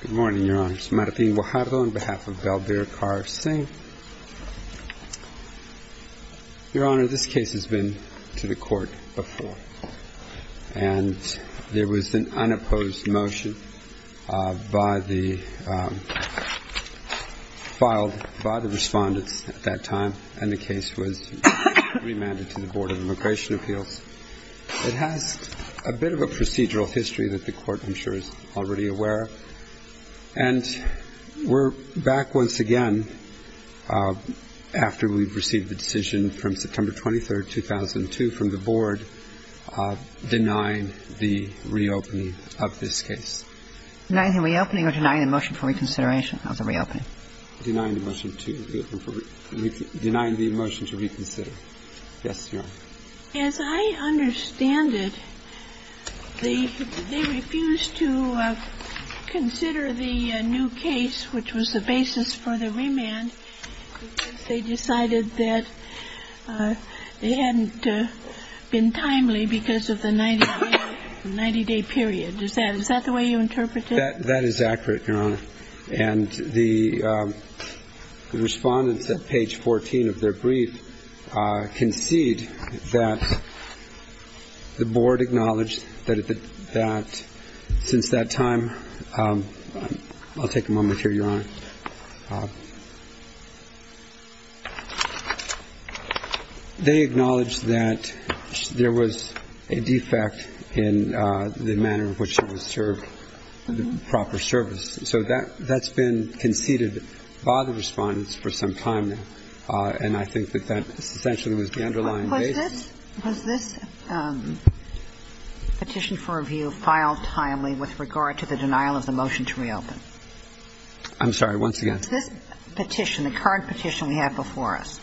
Good morning, Your Honor. This is Martin Guajardo on behalf of Balbir Kaur Singh. Your Honor, this case has been to the Court before. And there was an unopposed motion filed by the respondents at that time, and the case was remanded to the Board of Immigration Appeals. It has a bit of a procedural history that the Court, I'm sure, is already aware of. And we're back once again after we've received the decision from September 23, 2002, from the Board denying the reopening of this case. Denying the reopening or denying the motion for reconsideration of the reopening? Denying the motion to reconsider. Yes, Your Honor. As I understand it, they refused to consider the new case, which was the basis for the remand. They decided that it hadn't been timely because of the 90-day period. Is that the way you interpret it? That is accurate, Your Honor. And the respondents at page 14 of their brief concede that the Board acknowledged that since that time, I'll take a moment here, Your Honor. They acknowledged that there was a defect in the manner in which it was served, the proper service. So that's been conceded by the respondents for some time now. And I think that that essentially was the underlying basis. Was this petition for review filed timely with regard to the denial of the motion to reopen? I'm sorry? I'm sorry, once again. Was this petition, the current petition we have before us,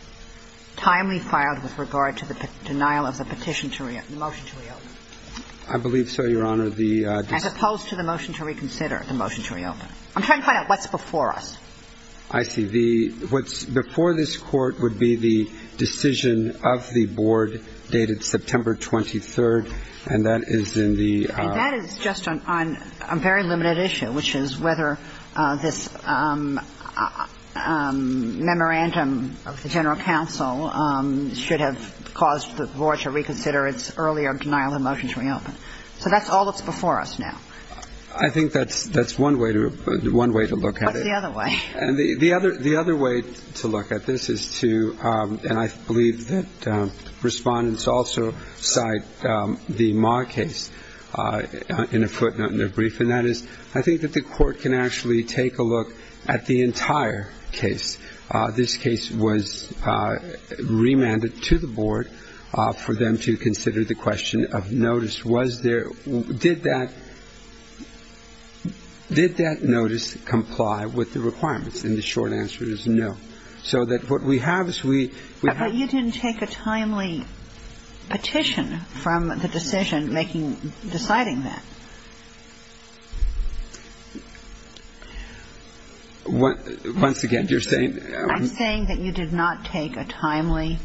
timely filed with regard to the denial of the petition to reopen, the motion to reopen? I believe so, Your Honor. As opposed to the motion to reconsider, the motion to reopen. I'm trying to find out what's before us. I see. What's before this Court would be the decision of the Board dated September 23, and that is in the – And that is just on a very limited issue, which is whether this memorandum of the General Counsel should have caused the Board to reconsider its earlier denial of the motion to reopen. So that's all that's before us now. I think that's one way to look at it. What's the other way? And the other way to look at this is to – and I believe that Respondents also cite the Ma case in a footnote in their brief, and that is I think that the Court can actually take a look at the entire case. This case was remanded to the Board for them to consider the question of notice. Did that notice comply with the requirements? And the short answer is no. So that what we have is we have – But you didn't take a timely petition from the decision making – deciding that. Once again, you're saying – I'm saying that you did not take a timely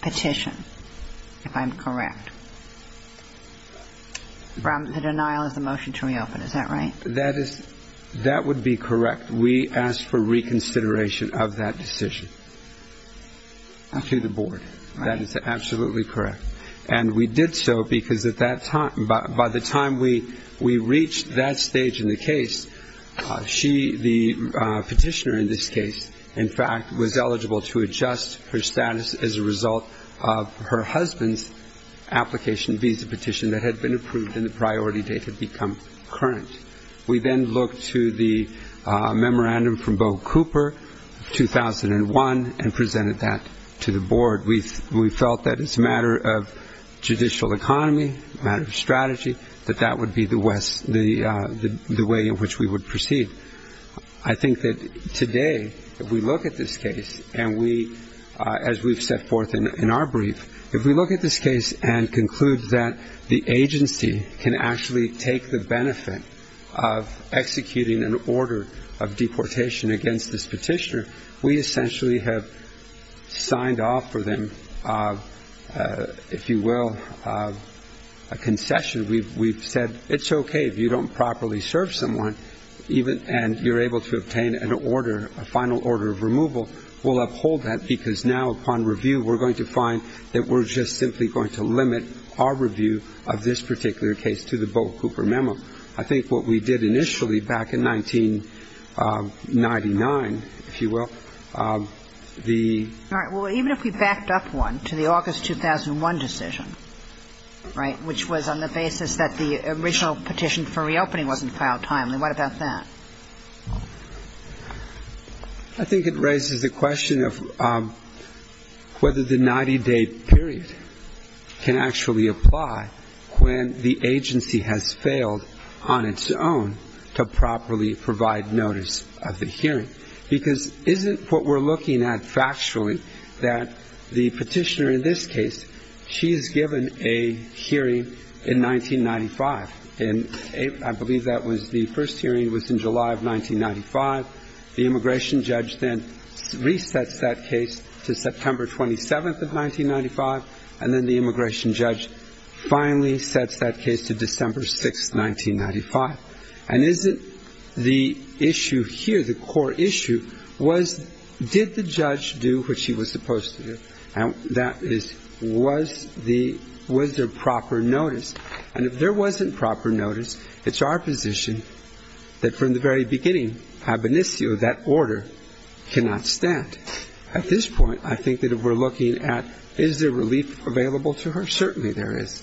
petition, if I'm correct, from the denial of the motion to reopen. Is that right? That would be correct. We asked for reconsideration of that decision to the Board. That is absolutely correct. And we did so because by the time we reached that stage in the case, she, the petitioner in this case, in fact, was eligible to adjust her status as a result of her husband's application visa petition that had been approved and the priority date had become current. We then looked to the memorandum from Bo Cooper, 2001, and presented that to the Board. We felt that it's a matter of judicial economy, a matter of strategy, that that would be the way in which we would proceed. I think that today, if we look at this case, and as we've set forth in our brief, if we look at this case and conclude that the agency can actually take the benefit of executing an order of deportation against this petitioner, we essentially have signed off for them, if you will, a concession. We've said it's okay if you don't properly serve someone and you're able to obtain an order, a final order of removal. We'll uphold that because now, upon review, we're going to find that we're just simply going to limit our review of this particular case to the Bo Cooper memo. I think what we did initially back in 1999, if you will, the ---- All right. Well, even if we backed up one to the August 2001 decision, right, which was on the basis that the original petition for reopening wasn't filed timely, what about that? I think it raises the question of whether the 90-day period can actually apply when the agency has failed on its own to properly provide notice of the hearing. Because isn't what we're looking at factually that the petitioner in this case, she is given a hearing in 1995, and I believe that was the first hearing was in July of 1995. The immigration judge then resets that case to September 27th of 1995, and then the immigration judge finally sets that case to December 6th, 1995. And isn't the issue here, the core issue, was did the judge do what she was supposed to do, and that is was there proper notice? And if there wasn't proper notice, it's our position that from the very beginning, ab initio, that order cannot stand. At this point, I think that if we're looking at is there relief available to her, certainly there is.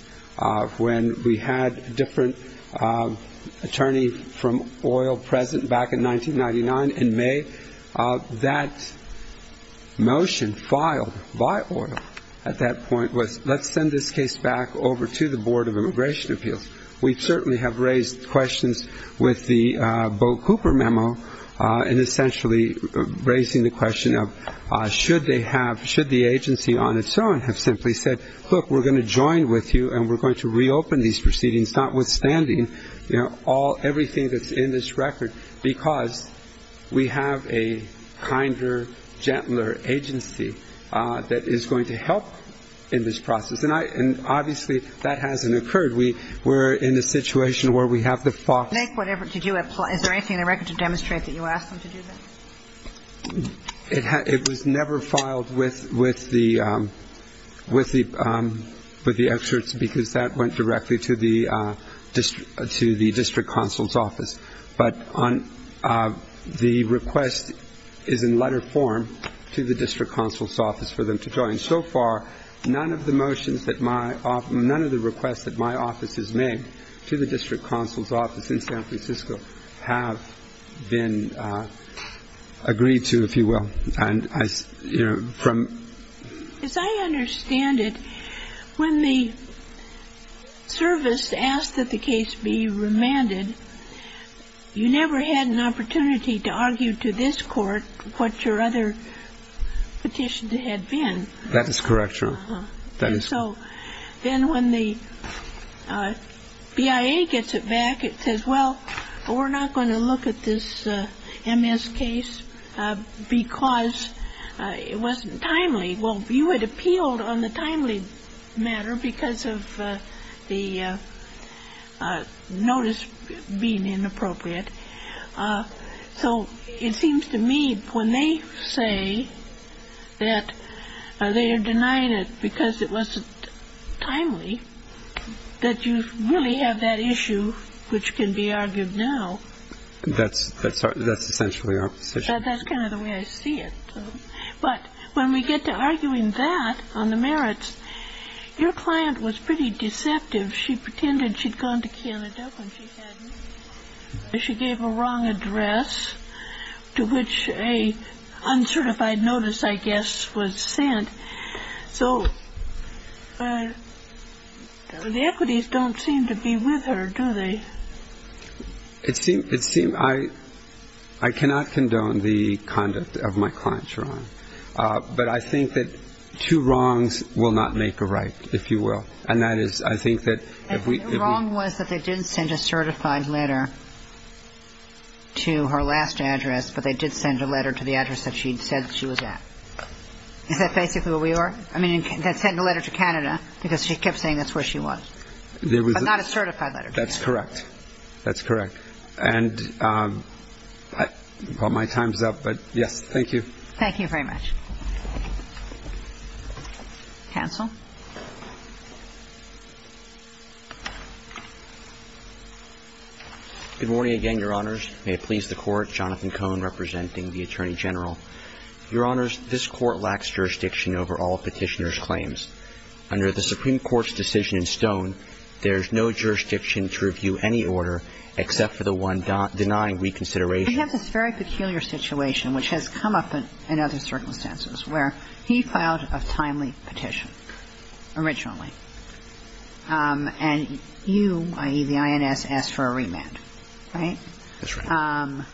When we had a different attorney from oil present back in 1999 in May, that motion filed by oil at that point was let's send this case back over to the Board of Immigration Appeals. We certainly have raised questions with the Bo Cooper memo and essentially raising the question of should they have, should the agency on its own have simply said, look, we're going to join with you and we're going to reopen these proceedings, notwithstanding everything that's in this record, because we have a kinder, gentler agency that is going to help in this process. And obviously that hasn't occurred. We're in a situation where we have the fox. Make whatever to do it. Is there anything in the record to demonstrate that you asked them to do that? It was never filed with the experts because that went directly to the district counsel's office. But the request is in letter form to the district counsel's office for them to join. So far, none of the motions that my office, none of the requests that my office has made to the district counsel's office in San Francisco have been agreed to, if you will. As I understand it, when the service asked that the case be remanded, you never had an opportunity to argue to this court what your other petition had been. That is correct, Your Honor. So then when the BIA gets it back, it says, well, we're not going to look at this MS case because it wasn't timely. Well, you had appealed on the timely matter because of the notice being inappropriate. So it seems to me when they say that they are denying it because it wasn't timely, that you really have that issue which can be argued now. That's essentially our position. That's kind of the way I see it. But when we get to arguing that on the merits, your client was pretty deceptive. She pretended she'd gone to Canada when she hadn't. She gave a wrong address to which an uncertified notice, I guess, was sent. So the equities don't seem to be with her, do they? It seems I cannot condone the conduct of my client, Your Honor. But I think that two wrongs will not make a right, if you will. And that is, I think that if we... The problem was that they didn't send a certified letter to her last address, but they did send a letter to the address that she said she was at. Is that basically where we are? I mean, they sent a letter to Canada because she kept saying that's where she was. But not a certified letter to Canada. That's correct. That's correct. And my time's up, but, yes, thank you. Thank you very much. Cancel. Good morning again, Your Honors. May it please the Court. Jonathan Cohn representing the Attorney General. Your Honors, this Court lacks jurisdiction over all Petitioner's claims. Under the Supreme Court's decision in Stone, there's no jurisdiction to review any order except for the one denying reconsideration. We have this very peculiar situation, which has come up in other circumstances, where he filed a timely petition originally. And you, i.e., the INS, asked for a remand, right? That's right.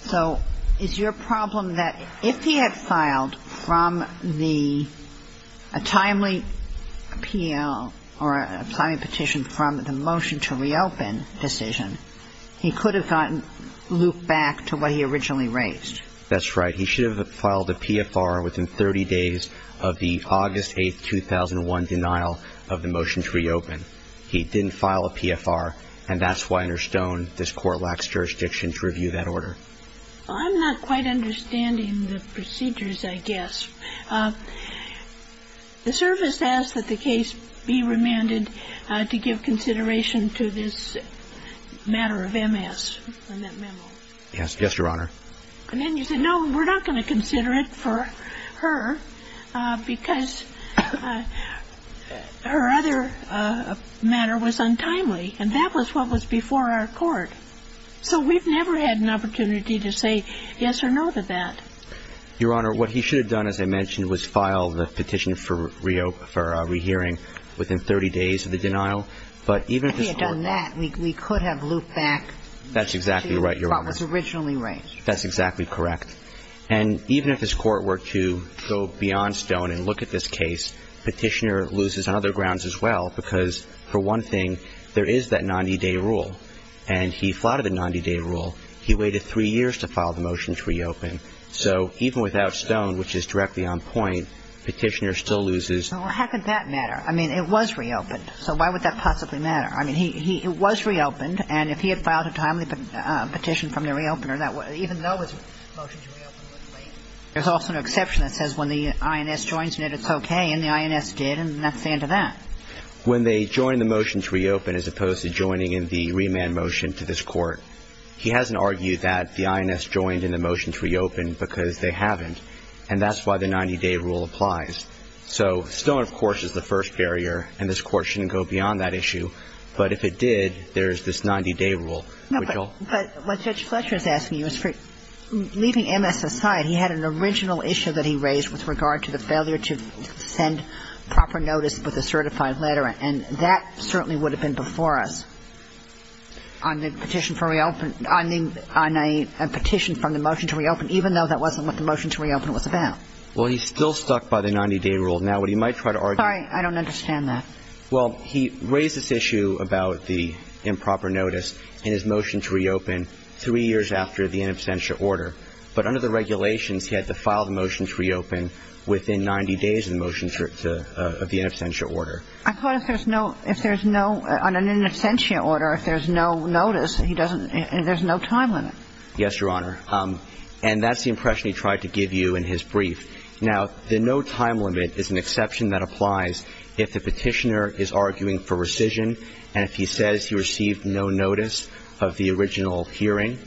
So is your problem that if he had filed from the timely appeal or a timely petition from the motion to reopen decision, he could have gotten looped back to what he originally raised? That's right. He should have filed a PFR within 30 days of the August 8, 2001, denial of the motion to reopen. He didn't file a PFR, and that's why under Stone this Court lacks jurisdiction to review that order. I'm not quite understanding the procedures, I guess. The service asked that the case be remanded to give consideration to this matter of MS in that memo. Yes. Yes, Your Honor. And then you said, no, we're not going to consider it for her because her other matter was untimely, and that was what was before our Court. So we've never had an opportunity to say yes or no to that. Your Honor, what he should have done, as I mentioned, was file the petition for rehearing within 30 days of the denial. But even if his Court… If he had done that, we could have looped back to what was originally raised. That's exactly right, Your Honor. That's exactly correct. And even if his Court were to go beyond Stone and look at this case, Petitioner loses on other grounds as well because, for one thing, there is that 90-day rule. And he flouted a 90-day rule. He waited three years to file the motion to reopen. So even without Stone, which is directly on point, Petitioner still loses. Well, how could that matter? I mean, it was reopened, so why would that possibly matter? I mean, it was reopened, and if he had filed a timely petition from the reopener, even though his motion to reopen was late, there's also an exception that says when the INS joins in it, it's okay, and the INS did, and that's the end of that. When they joined the motion to reopen as opposed to joining in the remand motion to this Court, he hasn't argued that the INS joined in the motion to reopen because they haven't, and that's why the 90-day rule applies. So Stone, of course, is the first barrier, and this Court shouldn't go beyond that issue. But if it did, there's this 90-day rule, which all of the other cases have. No, but what Judge Fletcher is asking you is, leaving MS aside, he had an original issue that he raised with regard to the failure to send proper notice with a certified letter, and that certainly would have been before us. On the petition for reopen – on a petition from the motion to reopen, even though that wasn't what the motion to reopen was about. Well, he's still stuck by the 90-day rule. Now, what he might try to argue – Sorry, I don't understand that. Well, he raised this issue about the improper notice in his motion to reopen three years after the in absentia order, but under the regulations, he had to file the motion to reopen within 90 days of the motion to – of the in absentia order. I thought if there's no – if there's no – on an in absentia order, if there's no notice, he doesn't – there's no time limit. Yes, Your Honor. And that's the impression he tried to give you in his brief. Now, the no time limit is an exception that applies if the petitioner is arguing for rescission and if he says he received no notice of the original hearing.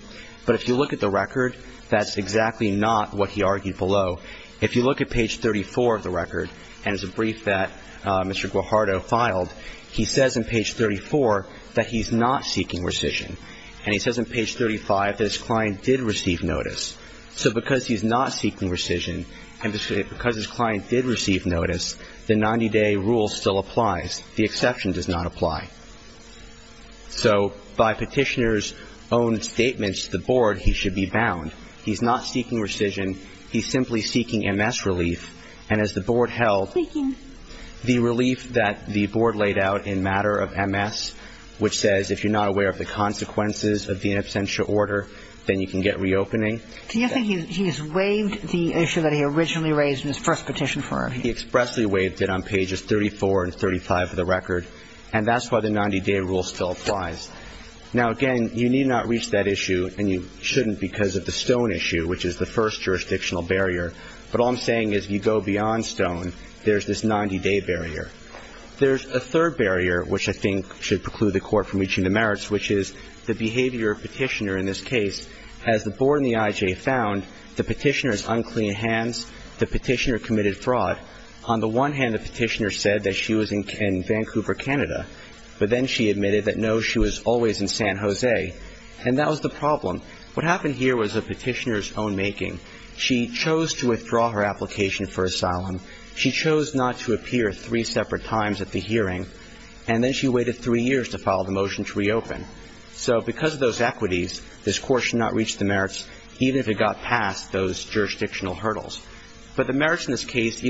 But if you look at the record, that's exactly not what he argued below. If you look at page 34 of the record, and it's a brief that Mr. Guajardo filed, he says in page 34 that he's not seeking rescission. And he says in page 35 that his client did receive notice. So because he's not seeking rescission and because his client did receive notice, the 90-day rule still applies. The exception does not apply. So by petitioner's own statements to the board, he should be bound. He's not seeking rescission. He's simply seeking MS relief. And as the board held, the relief that the board laid out in matter of MS, which says if you're not aware of the consequences of the in absentia order, then you can get reopening. Do you think he's waived the issue that he originally raised in his first petition for review? He expressly waived it on pages 34 and 35 of the record. And that's why the 90-day rule still applies. Now, again, you need not reach that issue, and you shouldn't because of the Stone issue, which is the first jurisdictional barrier. But all I'm saying is if you go beyond Stone, there's this 90-day barrier. There's a third barrier, which I think should preclude the court from reaching the merits, which is the behavior of petitioner in this case. As the board and the IJ found, the petitioner has unclean hands. The petitioner committed fraud. On the one hand, the petitioner said that she was in Vancouver, Canada. But then she admitted that, no, she was always in San Jose. And that was the problem. What happened here was a petitioner's own making. She chose to withdraw her application for asylum. She chose not to appear three separate times at the hearing. And then she waited three years to file the motion to reopen. So because of those equities, this Court should not reach the merits, even if it got past those jurisdictional hurdles. But the merits in this case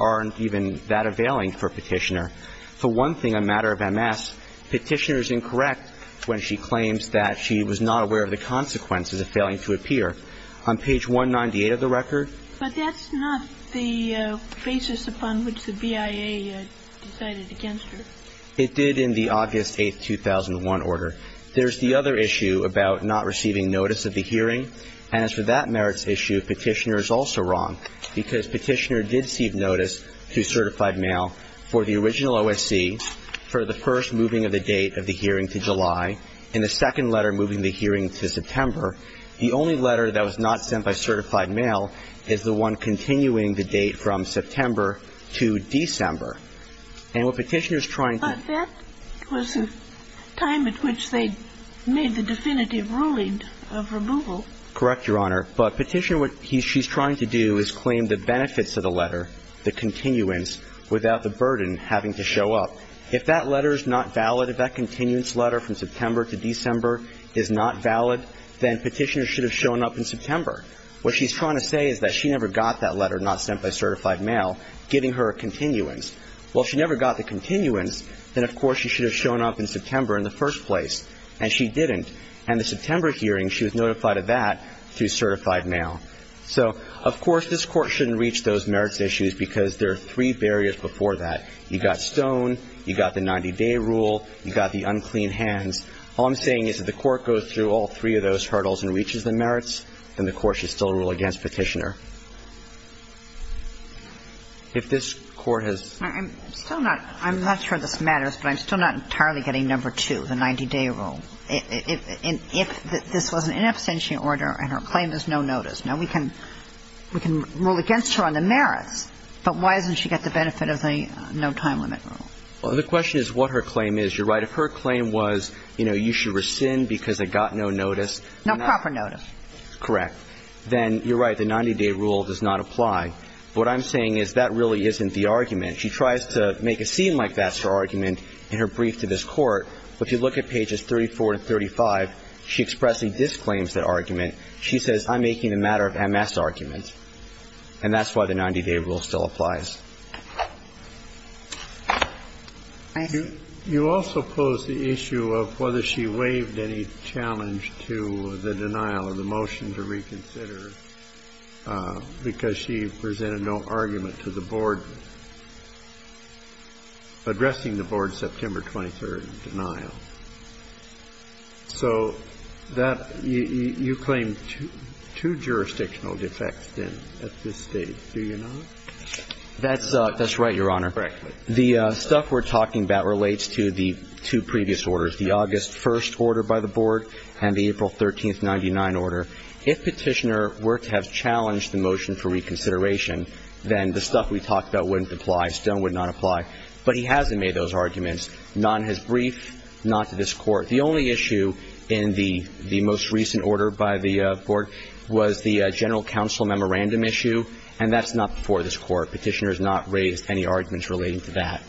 aren't even that availing for a petitioner. For one thing, a matter of MS, petitioner is incorrect when she claims that she was not aware of the consequences of failing to appear. On page 198 of the record. But that's not the basis upon which the BIA decided against her. It did in the August 8, 2001, order. There's the other issue about not receiving notice of the hearing. And as for that merits issue, petitioner is also wrong because petitioner did receive notice through certified mail for the original OSC for the first moving of the date of the hearing to July and the second letter moving the hearing to September. The only letter that was not sent by certified mail is the one continuing the date from September to December. And what petitioner is trying to do. But that was the time at which they made the definitive ruling of removal. Correct, Your Honor. But petitioner, what she's trying to do is claim the benefits of the letter, the continuance, without the burden having to show up. Well, if that letter is not valid, if that continuance letter from September to December is not valid, then petitioner should have shown up in September. What she's trying to say is that she never got that letter not sent by certified mail, giving her a continuance. Well, if she never got the continuance, then, of course, she should have shown up in September in the first place. And she didn't. And the September hearing, she was notified of that through certified mail. So, of course, this Court shouldn't reach those merits issues because there are three barriers before that. You've got Stone. You've got the 90-day rule. You've got the unclean hands. All I'm saying is if the Court goes through all three of those hurdles and reaches the merits, then the Court should still rule against petitioner. If this Court has ---- I'm still not ---- I'm not sure this matters, but I'm still not entirely getting number two, the 90-day rule. If this was an in absentia order and her claim is no notice, now we can rule against her on the merits. But why doesn't she get the benefit of the no time limit rule? Well, the question is what her claim is. You're right. If her claim was, you know, you should rescind because I got no notice. No proper notice. Correct. Then you're right. The 90-day rule does not apply. What I'm saying is that really isn't the argument. She tries to make it seem like that's her argument in her brief to this Court. But if you look at pages 34 and 35, she expressly disclaims that argument. She says, I'm making a matter of MS argument. And that's why the 90-day rule still applies. Thank you. You also pose the issue of whether she waived any challenge to the denial of the motion to reconsider because she presented no argument to the board addressing the board's September 23rd denial. So that you claim two jurisdictional defects then at this stage, do you not? That's right, Your Honor. Correct. The stuff we're talking about relates to the two previous orders, the August 1st order by the board and the April 13th, 1999 order. If Petitioner were to have challenged the motion for reconsideration, then the stuff we talked about wouldn't apply. Stone would not apply. But he hasn't made those arguments. None has briefed, not to this Court. The only issue in the most recent order by the board was the general counsel memorandum issue, and that's not before this Court. Petitioner has not raised any arguments relating to that.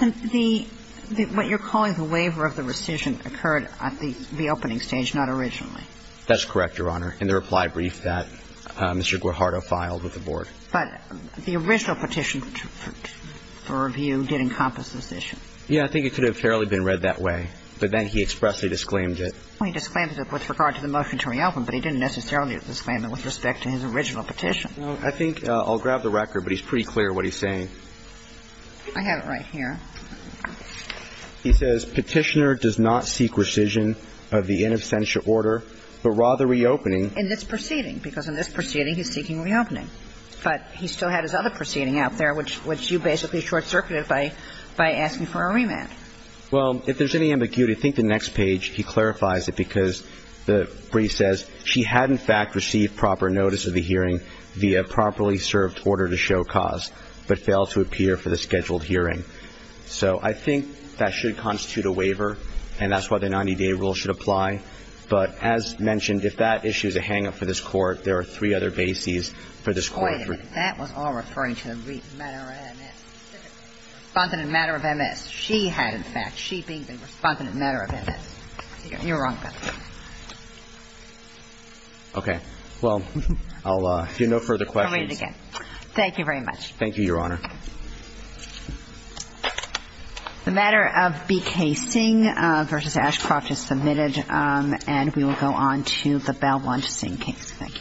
What you're calling the waiver of the rescission occurred at the opening stage, not originally. That's correct, Your Honor, in the reply brief that Mr. Guajardo filed with the board. But the original petition for review did encompass this issue. Yeah. I think it could have fairly been read that way. But then he expressly disclaimed it. He disclaimed it with regard to the motion to reopen, but he didn't necessarily disclaim it with respect to his original petition. I think I'll grab the record, but he's pretty clear what he's saying. I have it right here. He says, Petitioner does not seek rescission of the in absentia order, but rather reopening In this proceeding, because in this proceeding he's seeking reopening. But he still had his other proceeding out there, which you basically short-circuited by asking for a remand. Well, if there's any ambiguity, I think the next page he clarifies it, because the brief says, She had in fact received proper notice of the hearing via properly served order to show cause, but failed to appear for the scheduled hearing. So I think that should constitute a waiver, and that's why the 90-day rule should apply. But as mentioned, if that issue is a hang-up for this Court, there are three other cases for this Court. Wait a minute. That was all referring to the matter of MS. Respondent matter of MS. She had in fact. She being the respondent matter of MS. You're wrong about that. Okay. Well, I'll do no further questions. I'll read it again. Thank you very much. Thank you, Your Honor. The matter of BK Singh v. Ashcroft is submitted, and we will go on to the Belmont Singh case. Thank you. Thank you. Thank you. Thank you.